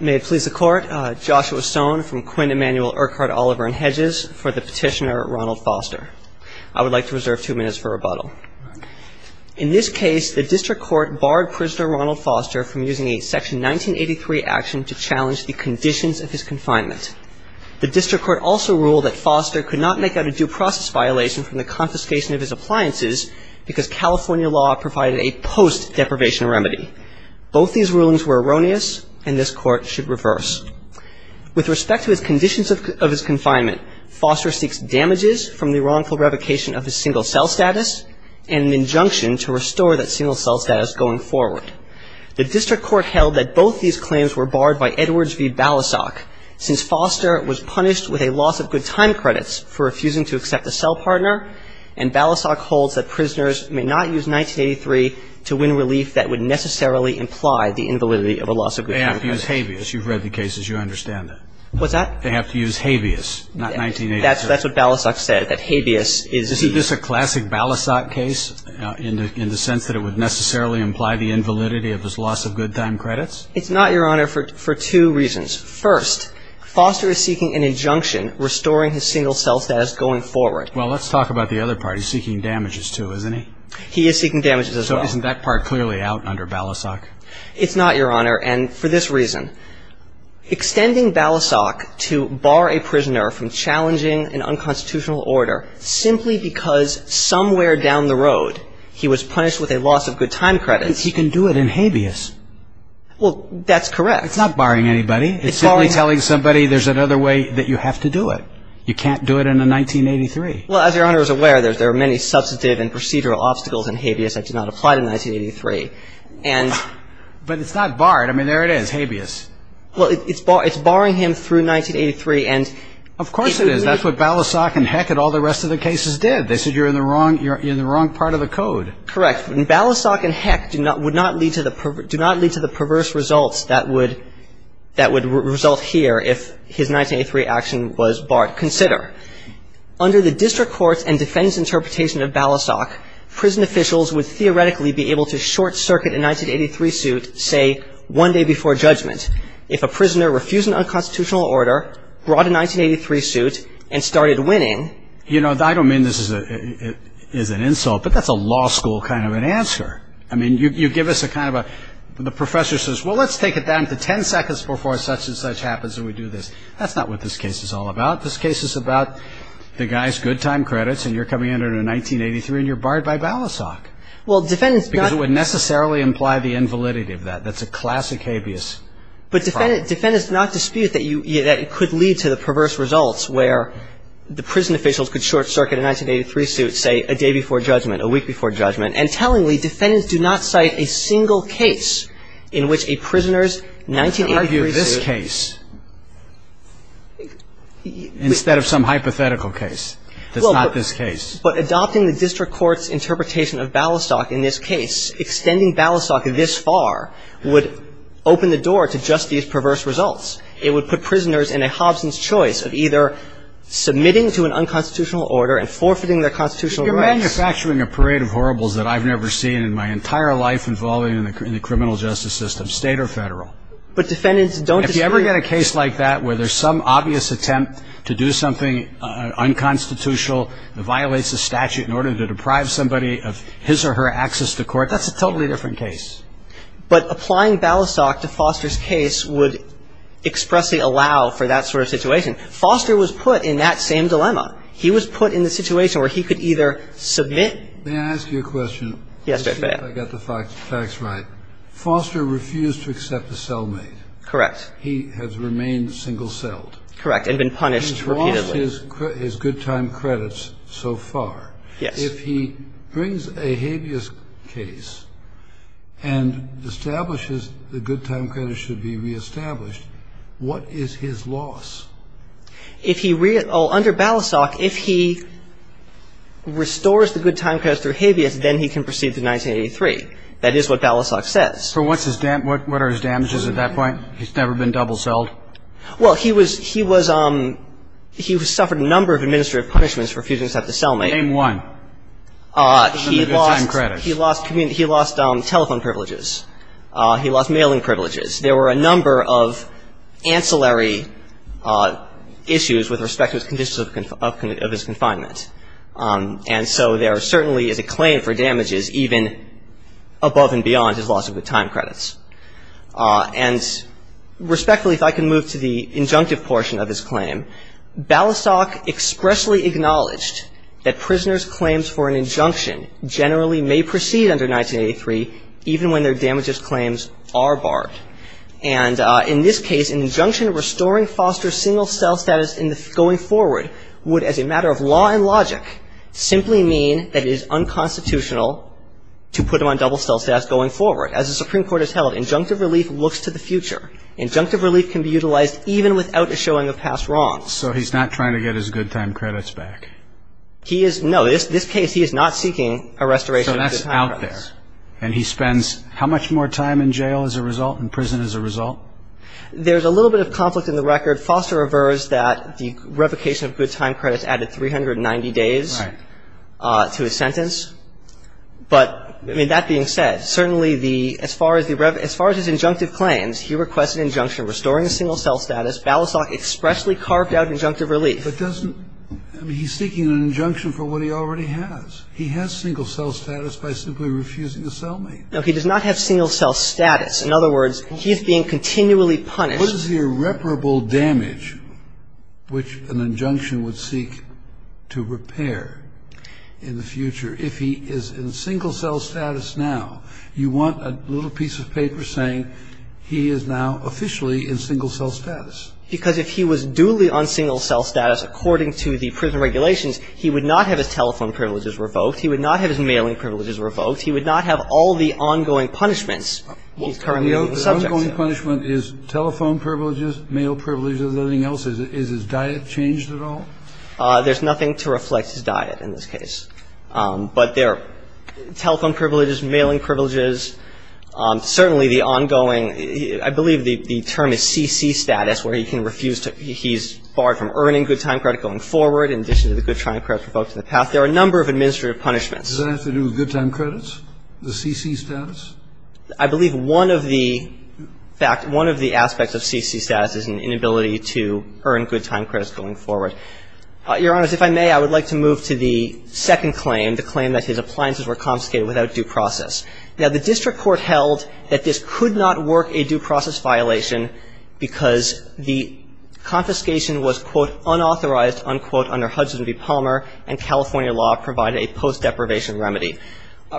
May it please the Court, Joshua Stone from Quinn Emanuel Urquhart Oliver & Hedges for the petitioner Ronald Foster. I would like to reserve two minutes for rebuttal. In this case, the District Court barred prisoner Ronald Foster from using a Section 1983 action to challenge the conditions of his confinement. The District Court also ruled that Foster could not make out a due process violation from the confiscation of his appliances because California law provided a post-deprivation remedy. Both these rulings were erroneous and this Court should reverse. With respect to his conditions of his confinement, Foster seeks damages from the wrongful revocation of his single-cell status and an injunction to restore that single-cell status going forward. The District Court held that both these claims were barred by Edwards v. Balasag since Foster was punished with a loss of good time credits for refusing to accept a cell partner and Balasag holds that prisoners may not use 1983 to win relief that would necessarily imply the invalidity of a loss of good time credits. They have to use habeas. You've read the cases. You understand that. What's that? They have to use habeas, not 1983. That's what Balasag said, that habeas is the – Isn't this a classic Balasag case in the sense that it would necessarily imply the invalidity of his loss of good time credits? It's not, Your Honor, for two reasons. First, Foster is seeking an injunction restoring his single-cell status going forward. Well, let's talk about the other part. He's seeking damages, too, isn't he? He is seeking damages as well. So isn't that part clearly out under Balasag? It's not, Your Honor, and for this reason, extending Balasag to bar a prisoner from challenging an unconstitutional order simply because somewhere down the road he was punished with a loss of good time credits – But he can do it in habeas. Well, that's correct. It's not barring anybody. It's simply telling somebody there's another way that you have to do it. You can't do it in a 1983. Well, as Your Honor is aware, there are many substantive and procedural obstacles in habeas that do not apply to 1983, and – But it's not barred. I mean, there it is, habeas. Well, it's barring him through 1983, and – Of course it is. That's what Balasag and Heck and all the rest of the cases did. They said you're in the wrong part of the code. Correct. And Balasag and Heck do not – would not lead to the – do not lead to the perverse results that would – that would result here if his 1983 action was barred. Consider, under the district courts and defense interpretation of Balasag, prison officials would theoretically be able to short circuit a 1983 suit, say, one day before judgment. If a prisoner refused an unconstitutional order, brought a 1983 suit, and started winning – You know, I don't mean this is an insult, but that's a law school kind of an answer. I mean, you give us a kind of a – the professor says, well, let's take it down to ten seconds before such and such happens, and we do this. That's not what this case is all about. This case is about the guy's good time credits, and you're coming in under 1983, and you're barred by Balasag. Well, defendants – Because it would necessarily imply the invalidity of that. That's a classic habeas problem. But defendants – defendants do not dispute that you – that it could lead to the perverse results where the prison officials could short circuit a 1983 suit, say, a day before judgment, a week before judgment. And tellingly, defendants do not cite a single case in which a prisoner's 1983 suit – You can argue this case instead of some hypothetical case that's not this case. But adopting the district court's interpretation of Balasag in this case, extending Balasag this far, would open the door to just these perverse results. It would put prisoners in a Hobson's choice of either submitting to an unconstitutional order and forfeiting their constitutional rights. You're manufacturing a parade of horribles that I've never seen in my entire life involving the criminal justice system, state or federal. But defendants don't dispute – If you ever get a case like that where there's some obvious attempt to do something unconstitutional that violates the statute in order to deprive somebody of his or her access to court, that's a totally different case. But applying Balasag to Foster's case would expressly allow for that sort of situation. Foster was put in that same dilemma. He was put in the situation where he could either submit – May I ask you a question? Yes, Judge Bailiff. See if I got the facts right. Foster refused to accept a cellmate. Correct. He has remained single-celled. Correct, and been punished repeatedly. He's lost his good time credits so far. Yes. If he brings a habeas case and establishes the good time credits should be reestablished, what is his loss? If he – under Balasag, if he restores the good time credits through habeas, then he can proceed to 1983. That is what Balasag says. So what's his – what are his damages at that point? He's never been double-celled? Well, he was – he was – he suffered a number of administrative punishments for refusing to accept a cellmate. Name one. He lost – he lost telephone privileges. He lost mailing privileges. There were a number of ancillary issues with respect to his conditions of his confinement. And so there certainly is a claim for damages even above and beyond his loss of the time credits. And respectfully, if I can move to the injunctive portion of his claim, Balasag expressly acknowledged that prisoners' claims for an injunction generally may proceed under 1983, even when their damages claims are barred. And in this case, an injunction restoring Foster's single-cell status in the – going forward would, as a matter of law and logic, simply mean that it is unconstitutional to put him on double-cell status going forward. As the Supreme Court has held, injunctive relief looks to the future. Injunctive relief can be utilized even without a showing of past wrongs. So he's not trying to get his good time credits back? He is – no. This case, he is not seeking a restoration of his time credits. So that's out there. And he spends how much more time in jail as a result, in prison as a result? There's a little bit of conflict in the record. Foster averves that the revocation of good time credits added 390 days to his sentence. Right. But, I mean, that being said, certainly the – as far as the – as far as his injunctive claims, he requests an injunction restoring the single-cell status. Ballisock expressly carved out injunctive relief. But doesn't – I mean, he's seeking an injunction for what he already has. He has single-cell status by simply refusing a cellmate. No, he does not have single-cell status. In other words, he is being continually punished. What is the irreparable damage which an injunction would seek to repair in the future if he is in single-cell status now? You want a little piece of paper saying he is now officially in single-cell status. Because if he was duly on single-cell status according to the prison regulations, he would not have his telephone privileges revoked. He would not have his mailing privileges revoked. He would not have all the ongoing punishments he's currently being subject to. Well, the ongoing punishment is telephone privileges, mail privileges, everything else. Is his diet changed at all? There's nothing to reflect his diet in this case. But there are telephone privileges, mailing privileges, certainly the ongoing – I believe the term is CC status, where he can refuse to – he's barred from earning good time credit going forward in addition to the good time credit revoked in the past. There are a number of administrative punishments. Does that have to do with good time credits, the CC status? I believe one of the – in fact, one of the aspects of CC status is an inability to earn good time credits going forward. Your Honor, if I may, I would like to move to the second claim, the claim that his appliances were confiscated without due process. Now, the district court held that this could not work a due process violation because the confiscation was, quote, unauthorized, unquote, under Hudson v. Palmer and California law provided a post-deprivation remedy.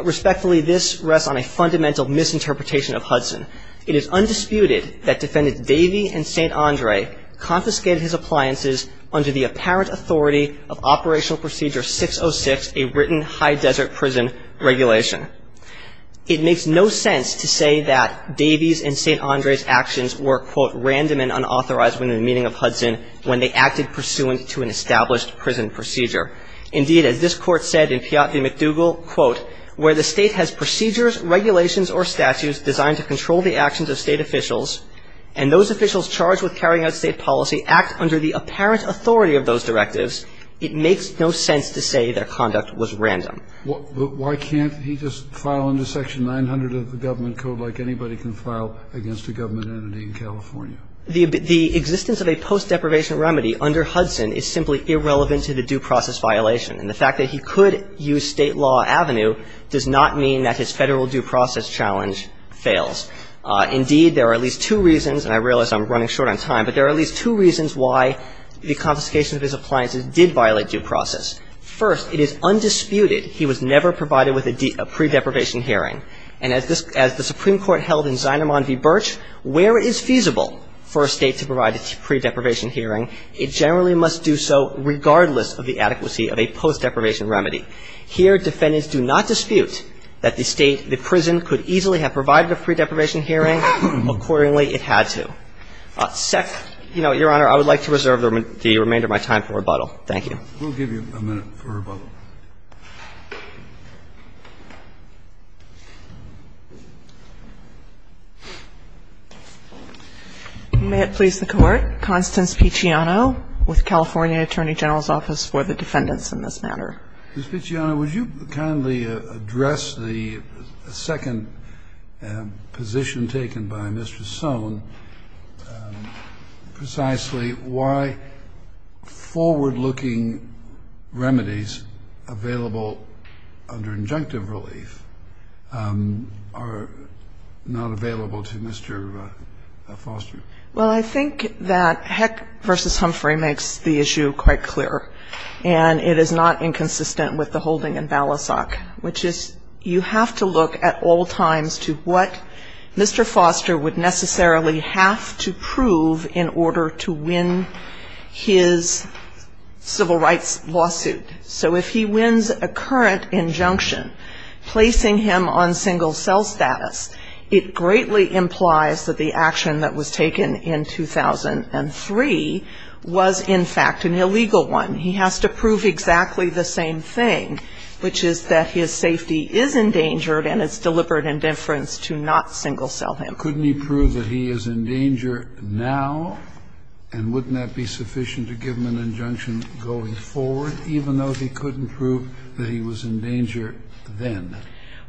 Respectfully, this rests on a fundamental misinterpretation of Hudson. It is undisputed that Defendants Davey and St. Andre confiscated his appliances under the apparent authority of Operational Procedure 606, a written high desert prison regulation. It makes no sense to say that Davey's and St. Andre's actions were, quote, random and unauthorized within the meaning of Hudson when they acted pursuant to an established prison procedure. Indeed, as this Court said in Piatt v. McDougall, quote, where the State has procedures, regulations or statutes designed to control the actions of State officials and those officials charged with carrying out State policy act under the apparent authority of those directives, it makes no sense to say their conduct was random. Why can't he just file under section 900 of the government code like anybody can file against a government entity in California? The existence of a post-deprivation remedy under Hudson is simply irrelevant to the due process violation. And the fact that he could use State law avenue does not mean that his Federal due process challenge fails. Indeed, there are at least two reasons, and I realize I'm running short on time, but there are at least two reasons why the confiscation of his appliances did violate due process. First, it is undisputed he was never provided with a pre-deprivation hearing. And as the Supreme Court held in Zinerman v. Birch, where it is feasible for a State to provide a pre-deprivation hearing, it generally must do so regardless of the adequacy of a post-deprivation remedy. Here, defendants do not dispute that the State, the prison could easily have provided a pre-deprivation hearing. Accordingly, it had to. Second, Your Honor, I would like to reserve the remainder of my time for rebuttal. Thank you. We'll give you a minute for rebuttal. May it please the Court. Constance Picciano with California Attorney General's Office for the Defendants in this matter. Ms. Picciano, would you kindly address the second position taken by Mr. Sohn, which is precisely why forward-looking remedies available under injunctive relief are not available to Mr. Foster? Well, I think that Heck v. Humphrey makes the issue quite clear, and it is not inconsistent with the holding in Balasag, which is you have to look at all times to what Mr. Foster would necessarily have to prove in order to win his civil rights lawsuit. So if he wins a current injunction placing him on single-cell status, it greatly implies that the action that was taken in 2003 was, in fact, an illegal one. He has to prove exactly the same thing, which is that his safety is endangered and it's deliberate indifference to not single-cell him. Couldn't he prove that he is in danger now? And wouldn't that be sufficient to give him an injunction going forward, even though he couldn't prove that he was in danger then?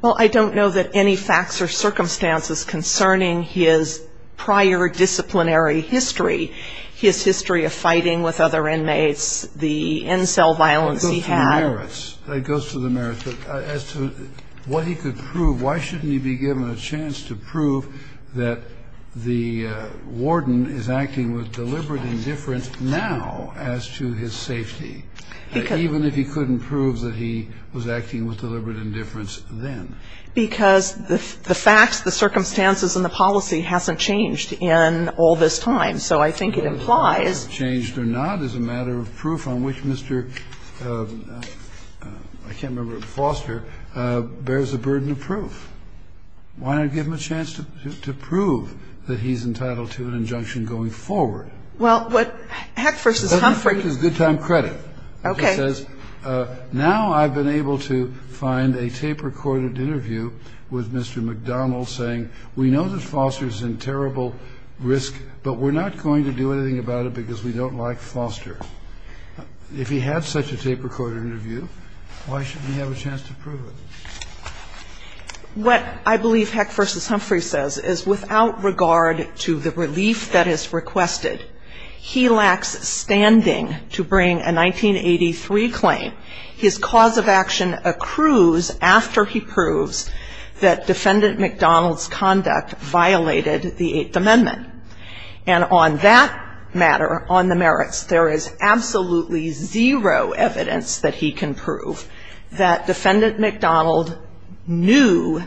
Well, I don't know that any facts or circumstances concerning his prior disciplinary history, his history of fighting with other inmates, the in-cell violence he had. It goes to the merits. It goes to the merits. As to what he could prove, why shouldn't he be given a chance to prove that the warden is acting with deliberate indifference now as to his safety, even if he couldn't prove that he was acting with deliberate indifference then? Because the facts, the circumstances, and the policy hasn't changed in all this time. And so I think it implies The fact that it hasn't changed or not is a matter of proof on which Mr. Foster bears a burden of proof. Why not give him a chance to prove that he's entitled to an injunction going forward? Well, what Hecht v. Humphrey Hecht v. Humphrey is good time credit. Okay. It says, now I've been able to find a tape-recorded interview with Mr. McDonald saying, we know that Foster's in terrible risk, but we're not going to do anything about it because we don't like Foster. If he had such a tape-recorded interview, why shouldn't he have a chance to prove it? What I believe Hecht v. Humphrey says is without regard to the relief that is requested, he lacks standing to bring a 1983 claim. His cause of action accrues after he proves that Defendant McDonald's conduct violated the Eighth Amendment. And on that matter, on the merits, there is absolutely zero evidence that he can prove that Defendant McDonald knew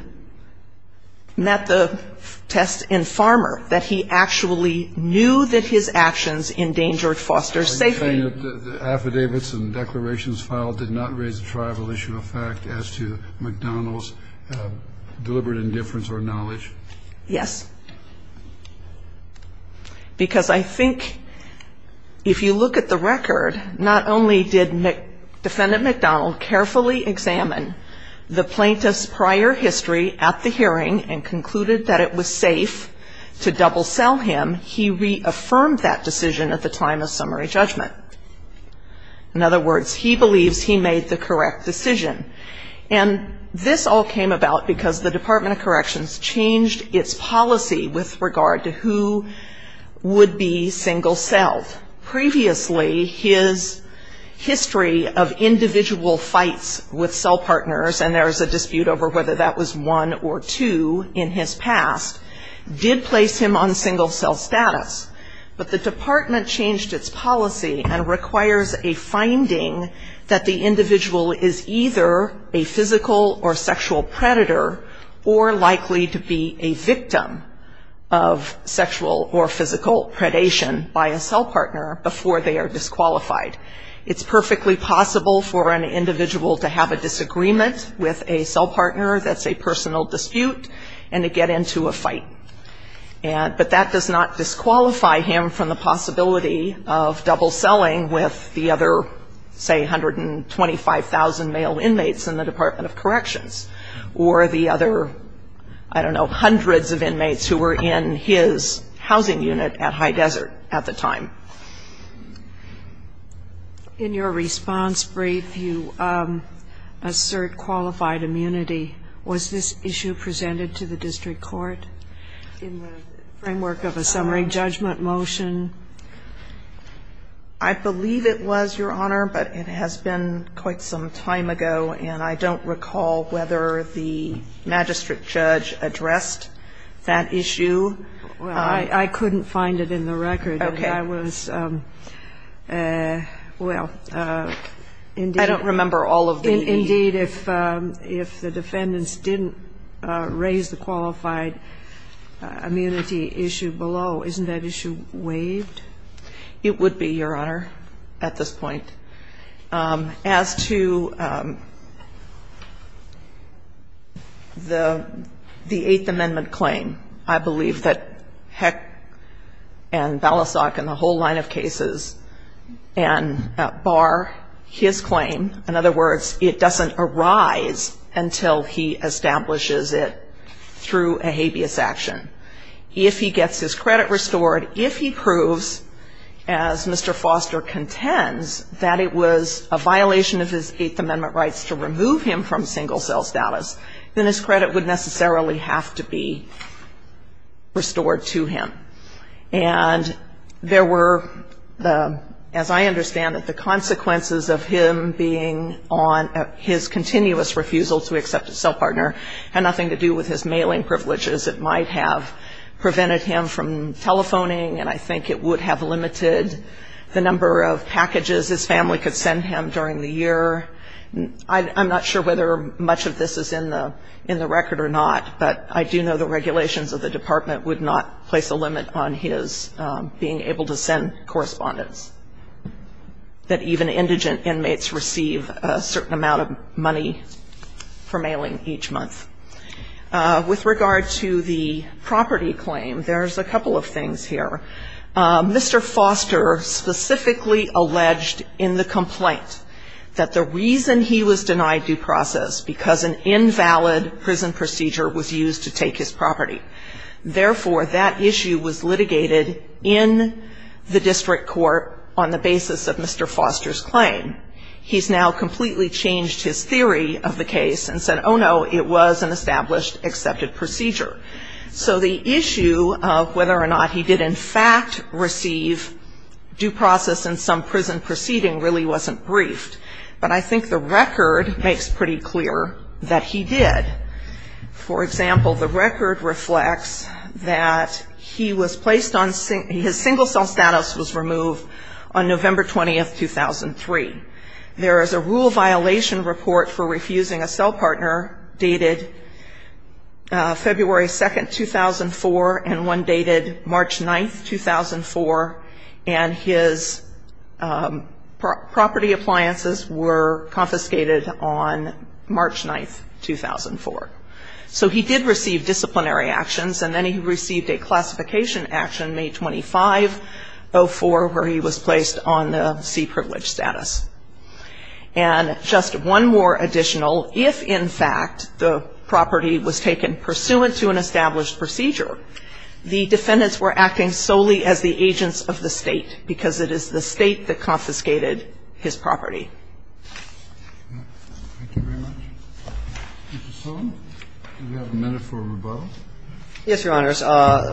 at the test in Farmer that he actually knew that his actions endangered Foster's safety. Are you saying that the affidavits and declarations filed did not raise a tribal issue of fact as to McDonald's deliberate indifference or knowledge? Yes. Because I think if you look at the record, not only did Defendant McDonald carefully examine the plaintiff's prior history at the hearing and concluded that it was safe to In other words, he believes he made the correct decision. And this all came about because the Department of Corrections changed its policy with regard to who would be single-celled. Previously, his history of individual fights with cell partners, and there is a dispute over whether that was one or two in his past, did place him on single-cell status. But the department changed its policy and requires a finding that the individual is either a physical or sexual predator or likely to be a victim of sexual or physical predation by a cell partner before they are disqualified. It's perfectly possible for an individual to have a disagreement with a cell partner that's a And that would clarify him from the possibility of double-selling with the other, say, 125,000 male inmates in the Department of Corrections or the other, I don't know, hundreds of inmates who were in his housing unit at High Desert at the time. In your response brief, you assert qualified immunity. Was this issue presented to the district court in the framework of a summary judgment motion? I believe it was, Your Honor, but it has been quite some time ago, and I don't recall whether the magistrate judge addressed that issue. Well, I couldn't find it in the record. Okay. Well, indeed. I don't remember all of the issues. Indeed, if the defendants didn't raise the qualified immunity issue below, isn't that issue waived? It would be, Your Honor, at this point. As to the Eighth Amendment claim, I believe that Heck and Balasag in the whole line of cases and bar his claim, in other words, it doesn't arise until he establishes it through a habeas action. If he gets his credit restored, if he proves, as Mr. Foster contends, that it was a violation of his Eighth Amendment rights to remove him from single-cell status, then his credit would necessarily have to be restored to him. And there were, as I understand it, the consequences of him being on his continuous refusal to accept a cell partner had nothing to do with his mailing privileges. It might have prevented him from telephoning, and I think it would have limited the number of packages his family could send him during the year. I'm not sure whether much of this is in the record or not, but I do know the regulations of the Department would not place a limit on his being able to send correspondence, that even indigent inmates receive a certain amount of money for mailing each month. With regard to the property claim, there's a couple of things here. Mr. Foster specifically alleged in the complaint that the reason he was denied due process, because an invalid prison procedure was used to take his property. Therefore, that issue was litigated in the district court on the basis of Mr. Foster's claim. He's now completely changed his theory of the case and said, oh, no, it was an established accepted procedure. So the issue of whether or not he did in fact receive due process in some prison proceeding really wasn't briefed. But I think the record makes pretty clear that he did. For example, the record reflects that he was placed on his single cell status was removed on November 20th, 2003. There is a rule violation report for refusing a cell partner dated February 2nd, 2004, and one dated March 9th, 2004, and his property appliances were confiscated on March 9th, 2004. So he did receive disciplinary actions, and then he received a classification action May 25, 2004, where he was placed on the C-privileged status. And just one more additional, if in fact the property was taken pursuant to an established procedure, the defendants were acting solely as the agents of the State, because it is the State that confiscated his property. Thank you very much. Mr. Sullivan, do we have a minute for rebuttal? Yes, Your Honors.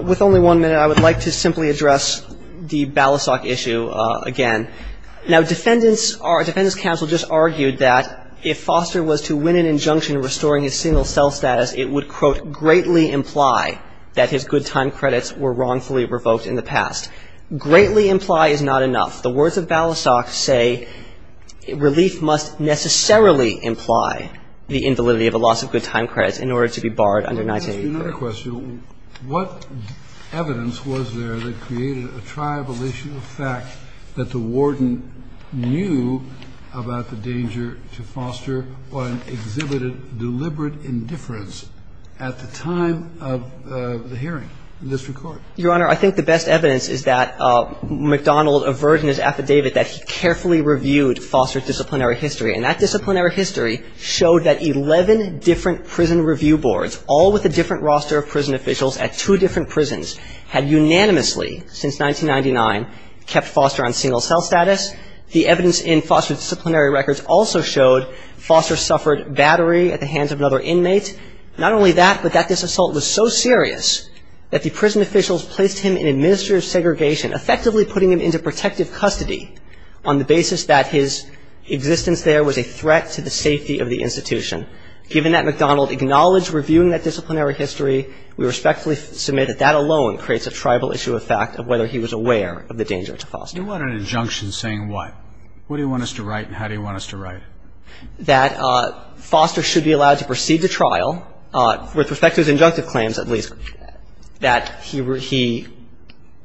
With only one minute, I would like to simply address the Balisock issue again. Now, defendants are — defendants counsel just argued that if Foster was to win an injunction restoring his single cell status, it would, quote, greatly imply that his good time credits were wrongfully revoked in the past. Greatly imply is not enough. The words of Balisock say relief must necessarily imply the invalidity of a loss of good time credits in order to be barred under 1984. Let me ask you another question. What evidence was there that created a tribal issue of fact that the warden knew about the danger to Foster or exhibited deliberate indifference at the time of the hearing in this record? Your Honor, I think the best evidence is that McDonald averted his affidavit that he carefully reviewed Foster's disciplinary history. And that disciplinary history showed that 11 different prison review boards, all with a different roster of prison officials at two different prisons, had unanimously, since 1999, kept Foster on single cell status. The evidence in Foster's disciplinary records also showed Foster suffered battery at the hands of another inmate. Not only that, but that this assault was so serious that the prison officials placed him in administrative segregation, effectively putting him into protective custody on the basis that his existence there was a threat to the safety of the institution. Given that McDonald acknowledged reviewing that disciplinary history, we respectfully submit that that alone creates a tribal issue of fact of whether he was aware of the danger to Foster. You want an injunction saying what? What do you want us to write and how do you want us to write? That Foster should be allowed to proceed to trial, with respect to his injunctive claims at least, that he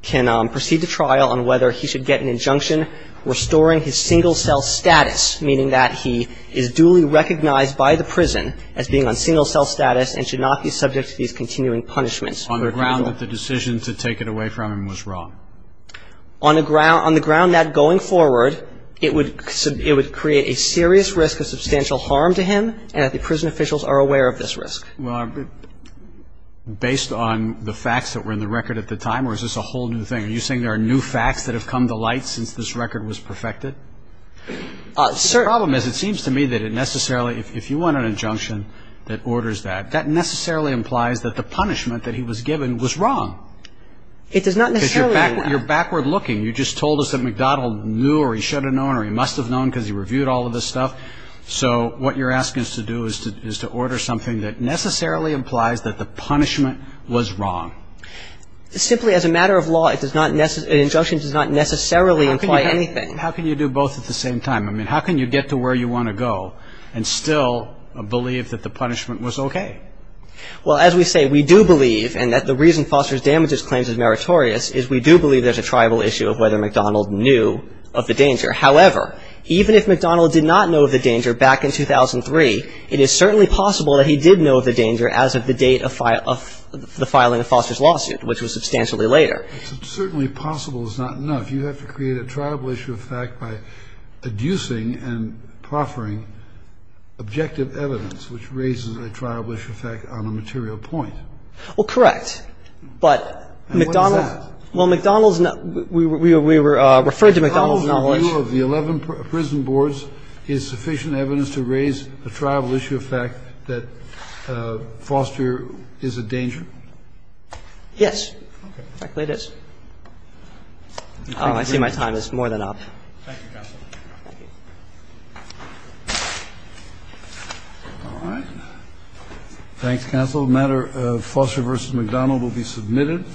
can proceed to trial on whether he should get an injunction restoring his single cell status, meaning that he is duly recognized by the prison as being on single cell status and should not be subject to these continuing punishments. On the ground that the decision to take it away from him was wrong. On the ground that going forward it would create a serious risk of substantial harm to him and that the prison officials are aware of this risk. Based on the facts that were in the record at the time or is this a whole new thing? Are you saying there are new facts that have come to light since this record was perfected? The problem is it seems to me that it necessarily, if you want an injunction that orders that, that necessarily implies that the punishment that he was given was wrong. It does not necessarily. Because you're backward looking. You just told us that MacDonald knew or he should have known or he must have known because he reviewed all of this stuff. So what you're asking us to do is to order something that necessarily implies that the punishment was wrong. Simply as a matter of law, an injunction does not necessarily imply anything. How can you do both at the same time? I mean how can you get to where you want to go and still believe that the punishment was okay? Well, as we say, we do believe and that the reason Foster's damages claim is meritorious is we do believe there's a triable issue of whether MacDonald knew of the danger. However, even if MacDonald did not know of the danger back in 2003, it is certainly possible that he did know of the danger as of the date of the filing of Foster's lawsuit, which was substantially later. Certainly possible is not enough. You have to create a triable issue of fact by adducing and proffering objective evidence, which raises a triable issue of fact on a material point. Well, correct. And what is that? Well, MacDonald's, we referred to MacDonald's knowledge. Is MacDonald's review of the 11 prison boards is sufficient evidence to raise a triable issue of fact that Foster is a danger? Yes. Okay. In fact, it is. I see my time is more than up. Thank you, counsel. Thank you. All right. Thanks, counsel. A matter of Foster v. MacDonald will be submitted.